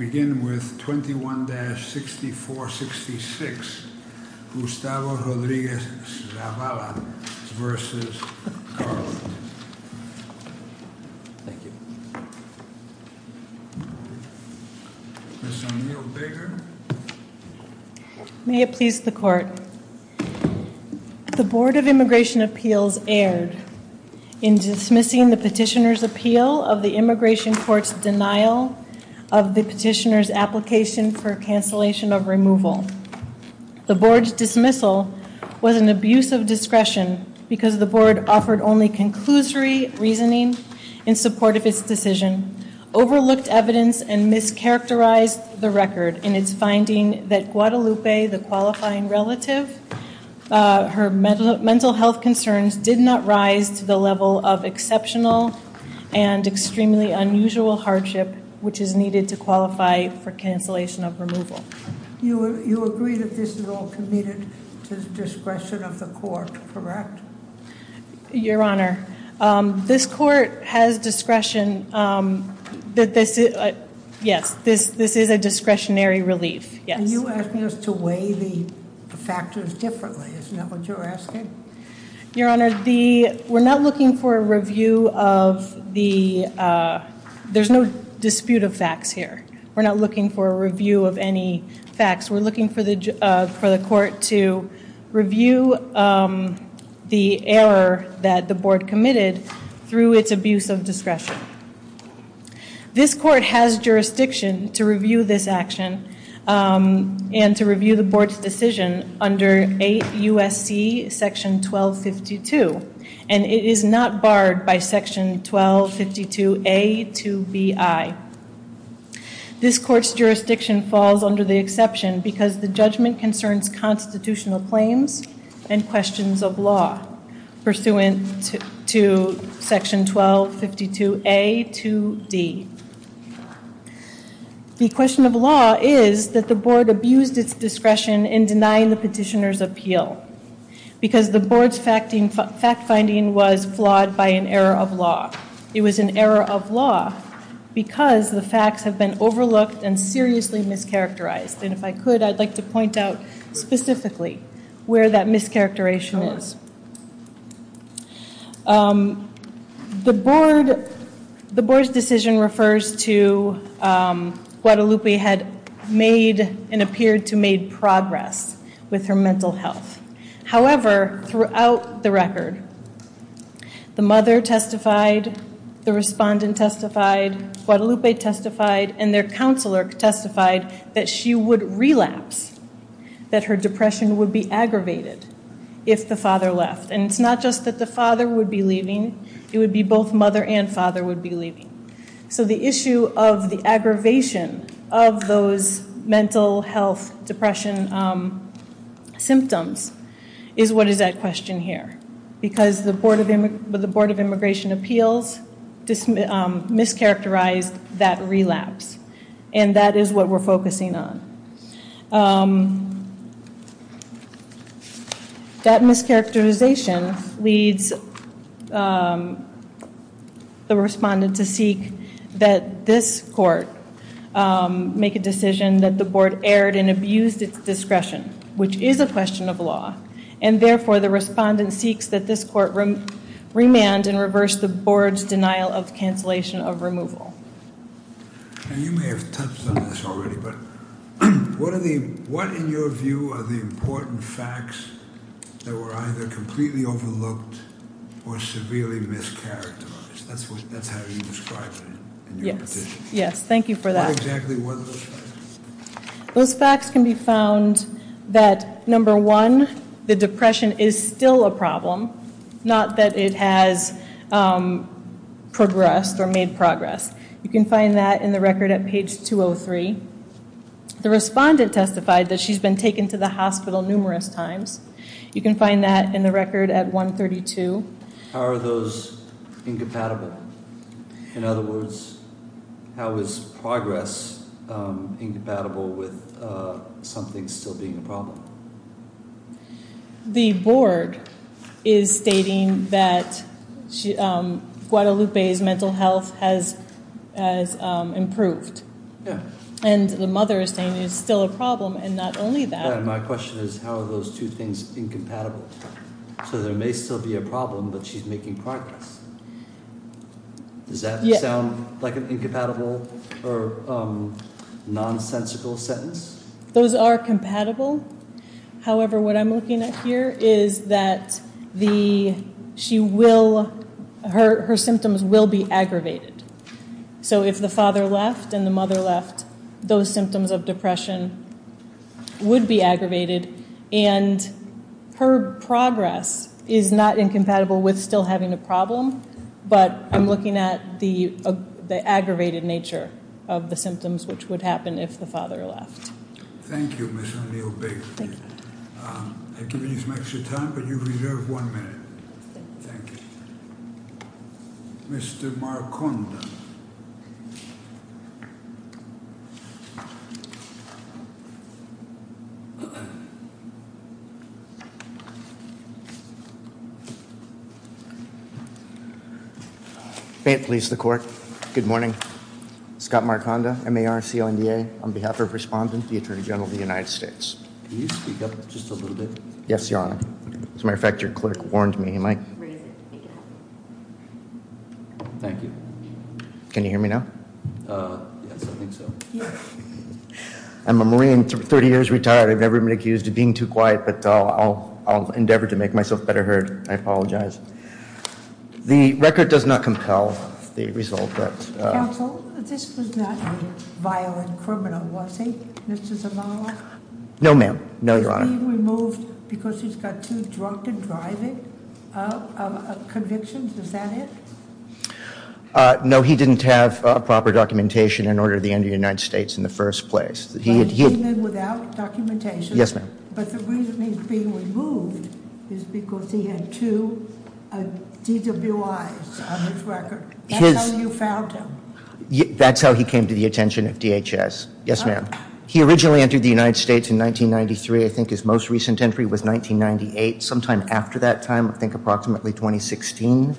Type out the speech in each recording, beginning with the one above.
May it please the Court, The Board of Immigration Appeals erred in dismissing the Petitioner's denial of the Petitioner's application for cancellation of removal. The Board's dismissal was an abuse of discretion because the Board offered only conclusory reasoning in support of its decision, overlooked evidence and mischaracterized the record in its finding that Guadalupe, the qualifying relative, her mental health concerns did not rise to the level of exceptional and extremely unusual hardship which is needed to qualify for cancellation of removal. You agree that this is all committed to the discretion of the Court, correct? Your Honor, this Court has to weigh the factors differently, isn't that what you're asking? Your Honor, we're not looking for a review of the, there's no dispute of facts here. We're not looking for a review of any facts. We're looking for the Court to review the error that the Board committed through its abuse of discretion. This Court has jurisdiction to review this action and to review the Board's decision under 8 U.S.C. section 1252 and it is not barred by section 1252A to B.I. This Court's jurisdiction falls under the exception because the judgment concerns constitutional claims and questions of law pursuant to section 1252A to D. The question of law is that the Board abused its discretion in denying the petitioner's appeal because the Board's fact finding was flawed by an error of law. It was an error of law because the facts have been overlooked and seriously mischaracterized and if I could, I'd like to point out specifically where that mischaracterization is. The Board's decision refers to Guadalupe had made and appeared to have made progress with her mental health. However, throughout the record, the mother testified, the respondent testified, Guadalupe testified, and their counselor testified that she would relapse. That her depression would be aggravated if the father left and it's not just that the father would be leaving, it would be both mother and father would be leaving. So the issue of the aggravation of those mental health depression symptoms is what is at question here. Because the Board of Immigration Appeals mischaracterized that relapse and that is what we're focusing on. That mischaracterization leads the respondent to seek that this court make a decision that the Board erred and abused its discretion, which is a question of law. And therefore, the respondent seeks that this court remand and reverse the Board's denial of cancellation of removal. And you may have touched on this already, but what in your view are the important facts that were either completely overlooked or severely mischaracterized? That's how you describe it in your petition. Yes, thank you for that. What exactly were those facts? Those facts can be found that, number one, the depression is still a problem, not that it has progressed or made progress. You can find that in the record at page 203. The respondent testified that she's been taken to the hospital numerous times. You can find that in the record at 132. How are those incompatible? In other words, how is progress incompatible with something still being a problem? The Board is stating that Guadalupe's mental health has improved. And the mother is saying it's still a problem and not only that. My question is how are those two things incompatible? So there may still be a problem, but she's making progress. Does that sound like an incompatible or nonsensical sentence? Those are compatible. However, what I'm looking at here is that her symptoms will be aggravated. So if the father left and the mother left, those symptoms of depression would be aggravated. And her progress is not incompatible with still having a problem, but I'm looking at the aggravated nature of the symptoms, which would happen if the father left. Thank you, Ms. O'Neil-Baker. I've given you some extra time, but you reserve one minute. Thank you. Mr. Marconda. May it please the court. Good morning. Scott Marconda, MARCLDA, on behalf of Respondent, the Attorney General of the United States. Can you speak up just a little bit? Yes, Your Honor. As a matter of fact, your clerk warned me. Thank you. Can you hear me now? Yes, I think so. I'm a Marine, 30 years retired. I've never been accused of being too quiet, but I'll endeavor to make myself better heard. I apologize. The record does not compel the result. Counsel, this was not a violent criminal, was he, Mr. Zavala? No, ma'am. No, Your Honor. He's being removed because he's got too drunk to drive it, a conviction. Is that it? No, he didn't have proper documentation in order to enter the United States in the first place. Even without documentation? Yes, ma'am. But the reason he's being removed is because he had two DWIs on his record. That's how you found him? That's how he came to the attention of DHS. Yes, ma'am. He originally entered the United States in 1993. I think his most recent entry was 1998. Sometime after that time, I think approximately 2016.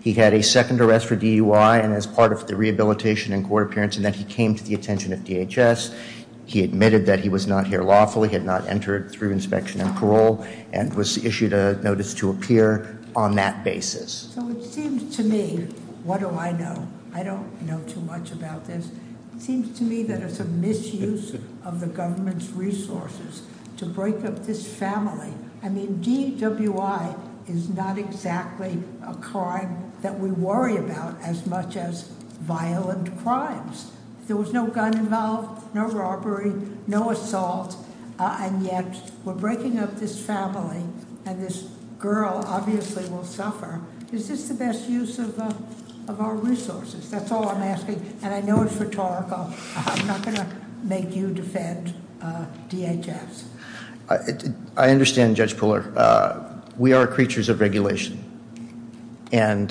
He had a second arrest for DUI and as part of the rehabilitation and court appearance, and then he came to the attention of DHS. He admitted that he was not here lawfully, had not entered through inspection and parole, and was issued a notice to appear on that basis. So it seems to me, what do I know? I don't know too much about this. It seems to me that it's a misuse of the government's resources to break up this family. I mean, DWI is not exactly a crime that we worry about as much as violent crimes. There was no gun involved, no robbery, no assault, and yet we're breaking up this family, and this girl obviously will suffer. Is this the best use of our resources? That's all I'm asking, and I know it's rhetorical. I'm not going to make you defend DHS. I understand, Judge Puller. We are creatures of regulation, and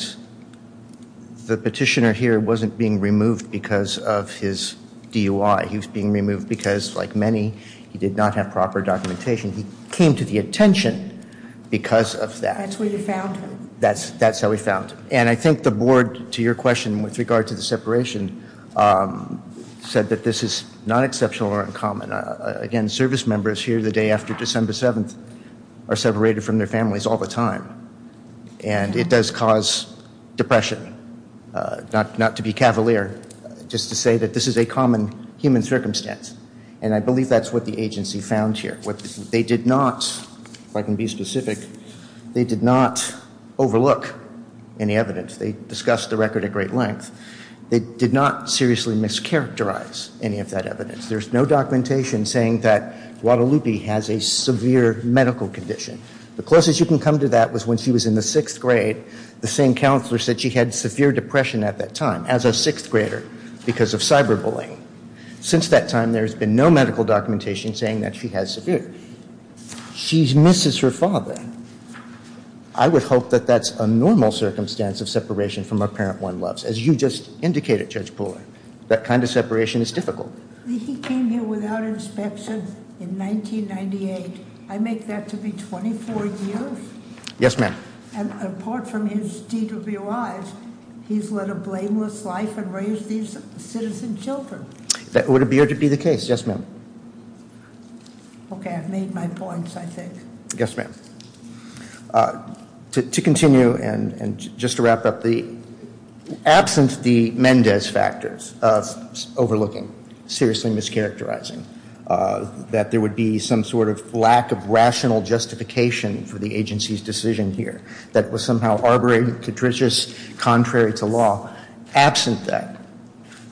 the petitioner here wasn't being removed because of his DUI. He was being removed because, like many, he did not have proper documentation. He came to the attention because of that. That's where you found him. That's how we found him, and I think the board, to your question with regard to the separation, said that this is not exceptional or uncommon. Again, service members here the day after December 7th are separated from their families all the time, and it does cause depression, not to be cavalier, just to say that this is a common human circumstance, and I believe that's what the agency found here. They did not, if I can be specific, they did not overlook any evidence. They discussed the record at great length. They did not seriously mischaracterize any of that evidence. There's no documentation saying that Guadalupe has a severe medical condition. The closest you can come to that was when she was in the sixth grade. The same counselor said she had severe depression at that time as a sixth grader because of cyberbullying. Since that time, there's been no medical documentation saying that she has severe. She misses her father. I would hope that that's a normal circumstance of separation from a parent one loves. As you just indicated, Judge Puller, that kind of separation is difficult. He came here without inspection in 1998. I make that to be 24 years? Yes, ma'am. And apart from his DWIs, he's led a blameless life and raised these citizen children. That would appear to be the case. Yes, ma'am. Okay, I've made my points, I think. Yes, ma'am. To continue and just to wrap up, absent the Mendez factors of overlooking, seriously mischaracterizing, that there would be some sort of lack of rational justification for the agency's decision here that was somehow arbitrary, catricious, contrary to law, absent that,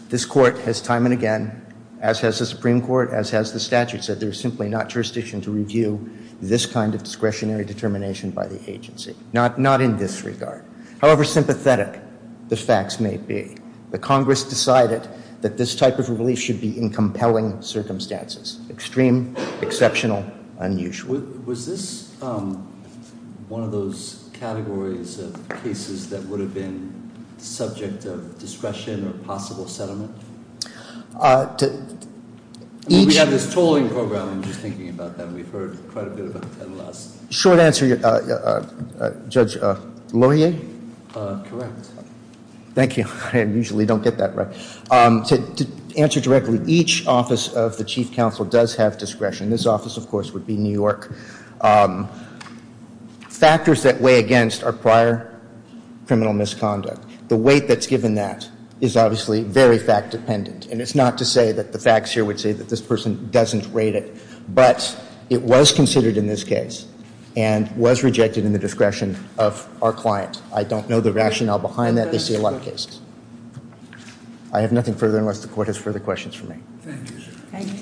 this court has time and again, as has the Supreme Court, as has the statute, said there's simply not jurisdiction to review this kind of discretionary determination by the agency, not in this regard. However sympathetic the facts may be, the Congress decided that this type of relief should be in compelling circumstances, extreme, exceptional, unusual. Was this one of those categories of cases that would have been subject of discretion or possible settlement? We have this tolling program, I'm just thinking about that. We've heard quite a bit about that in the last... Short answer, Judge Lohier? Correct. Thank you. I usually don't get that right. To answer directly, each office of the Chief Counsel does have discretion. This office, of course, would be New York. Factors that weigh against are prior criminal misconduct. The weight that's given that is obviously very fact-dependent, and it's not to say that the facts here would say that this person doesn't rate it, but it was considered in this case and was rejected in the discretion of our client. I don't know the rationale behind that. They see a lot of cases. I have nothing further unless the court has further questions for me. Thank you, sir. Thank you.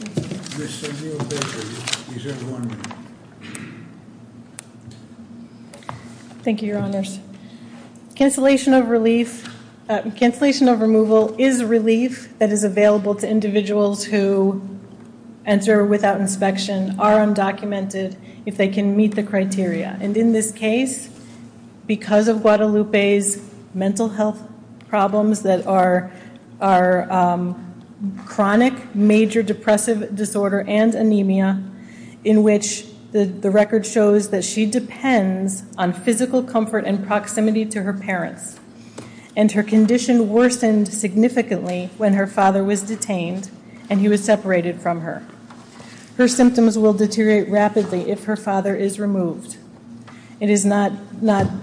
Thank you, Your Honors. Cancellation of relief. Cancellation of removal is relief that is available to individuals who enter without inspection, are undocumented, if they can meet the criteria. And in this case, because of Guadalupe's mental health problems that are chronic, major depressive disorder and anemia, in which the record shows that she depends on physical comfort and proximity to her parents, and her condition worsened significantly when her father was detained and he was separated from her. Her symptoms will deteriorate rapidly if her father is removed. It is not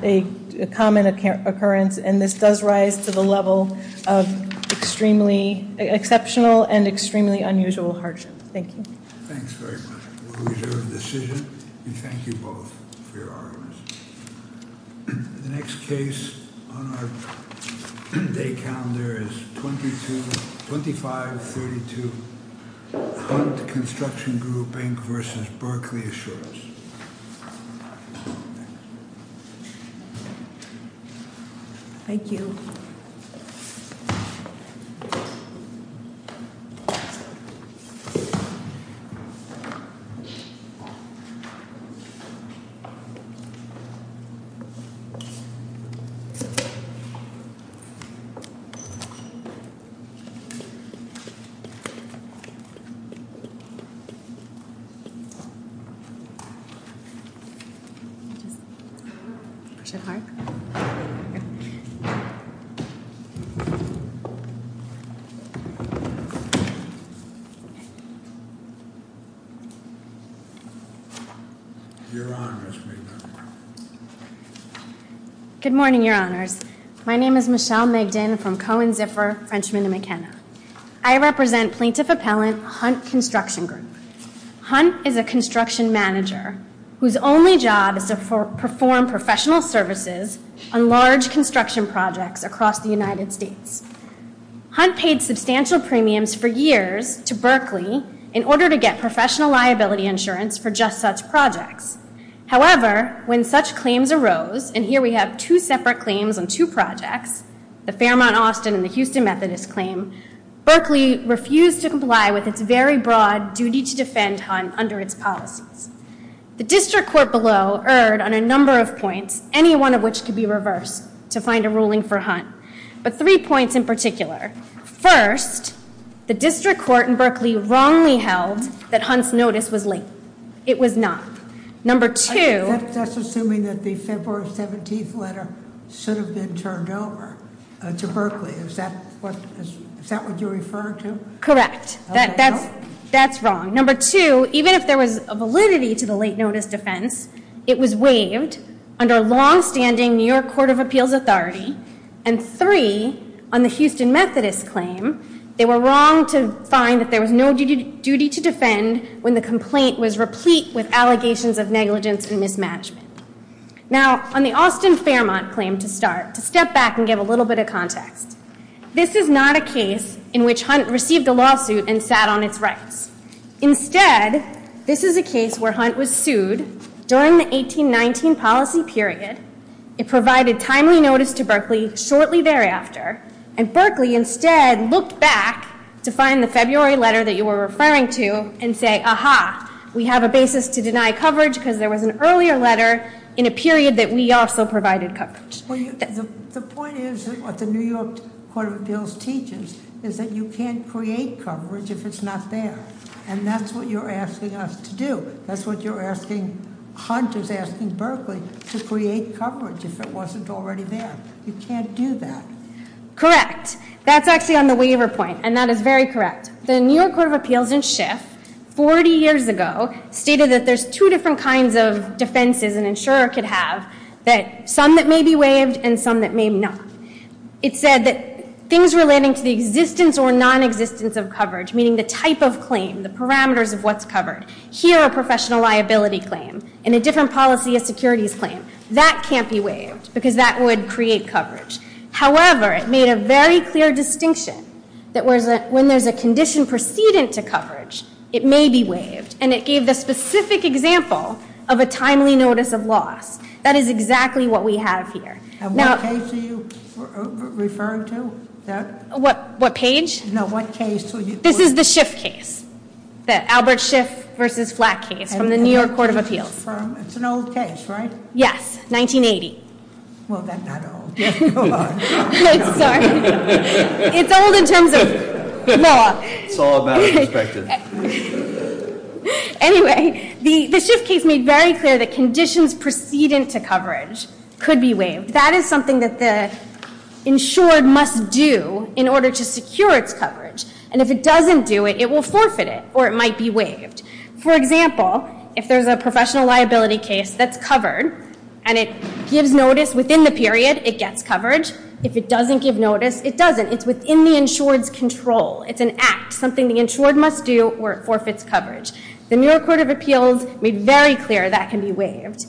a common occurrence, and this does rise to the level of exceptional and extremely unusual hardship. Thank you. Thanks very much. We reserve the decision. We thank you both for your arguments. The next case on our day calendar is 2532 Hunt Construction Group, Inc. v. Berkeley Assurance. Thank you. Just push it hard. Your Honors. Good morning, Your Honors. My name is Michelle Migdon from Cohen, Ziffer, Frenchman, and McKenna. I represent plaintiff appellant Hunt Construction Group. Hunt is a construction manager whose only job is to perform professional services on large construction projects across the United States. Hunt paid substantial premiums for years to Berkeley in order to get professional liability insurance for just such projects. However, when such claims arose, and here we have two separate claims on two projects, the Fairmont Austin and the Houston Methodist claim, Berkeley refused to comply with its very broad duty to defend Hunt under its policies. The district court below erred on a number of points, any one of which could be reversed to find a ruling for Hunt, but three points in particular. First, the district court in Berkeley wrongly held that Hunt's notice was late. It was not. Number two- That's assuming that the February 17th letter should have been turned over to Berkeley. Is that what you refer to? Correct. That's wrong. Number two, even if there was a validity to the late notice defense, it was waived under longstanding New York Court of Appeals authority. And three, on the Houston Methodist claim, they were wrong to find that there was no duty to defend when the complaint was replete with allegations of negligence and mismanagement. Now, on the Austin Fairmont claim to start, to step back and give a little bit of context, this is not a case in which Hunt received a lawsuit and sat on its rights. Instead, this is a case where Hunt was sued during the 1819 policy period, it provided timely notice to Berkeley shortly thereafter, and Berkeley instead looked back to find the February letter that you were referring to and say, aha, we have a basis to deny coverage, because there was an earlier letter in a period that we also provided coverage. The point is, what the New York Court of Appeals teaches, is that you can't create coverage if it's not there. And that's what you're asking us to do. That's what Hunt is asking Berkeley, to create coverage if it wasn't already there. You can't do that. Correct. That's actually on the waiver point, and that is very correct. The New York Court of Appeals in Schiff, 40 years ago, stated that there's two different kinds of defenses an insurer could have, some that may be waived and some that may not. It said that things relating to the existence or nonexistence of coverage, meaning the type of claim, the parameters of what's covered, here a professional liability claim, in a different policy a securities claim, that can't be waived, because that would create coverage. However, it made a very clear distinction, that when there's a condition precedent to coverage, it may be waived. And it gave the specific example of a timely notice of loss. That is exactly what we have here. And what case are you referring to? What page? No, what case? This is the Schiff case. The Albert Schiff versus Flack case, from the New York Court of Appeals. It's an old case, right? Yes, 1980. Well, then not old. Sorry. It's old in terms of law. It's all about perspective. Anyway, the Schiff case made very clear that conditions precedent to coverage could be waived. That is something that the insured must do in order to secure its coverage. And if it doesn't do it, it will forfeit it, or it might be waived. For example, if there's a professional liability case that's covered, and it gives notice within the period, it gets coverage. If it doesn't give notice, it doesn't. It's within the insured's control. It's an act, something the insured must do, or it forfeits coverage. The New York Court of Appeals made very clear that can be waived.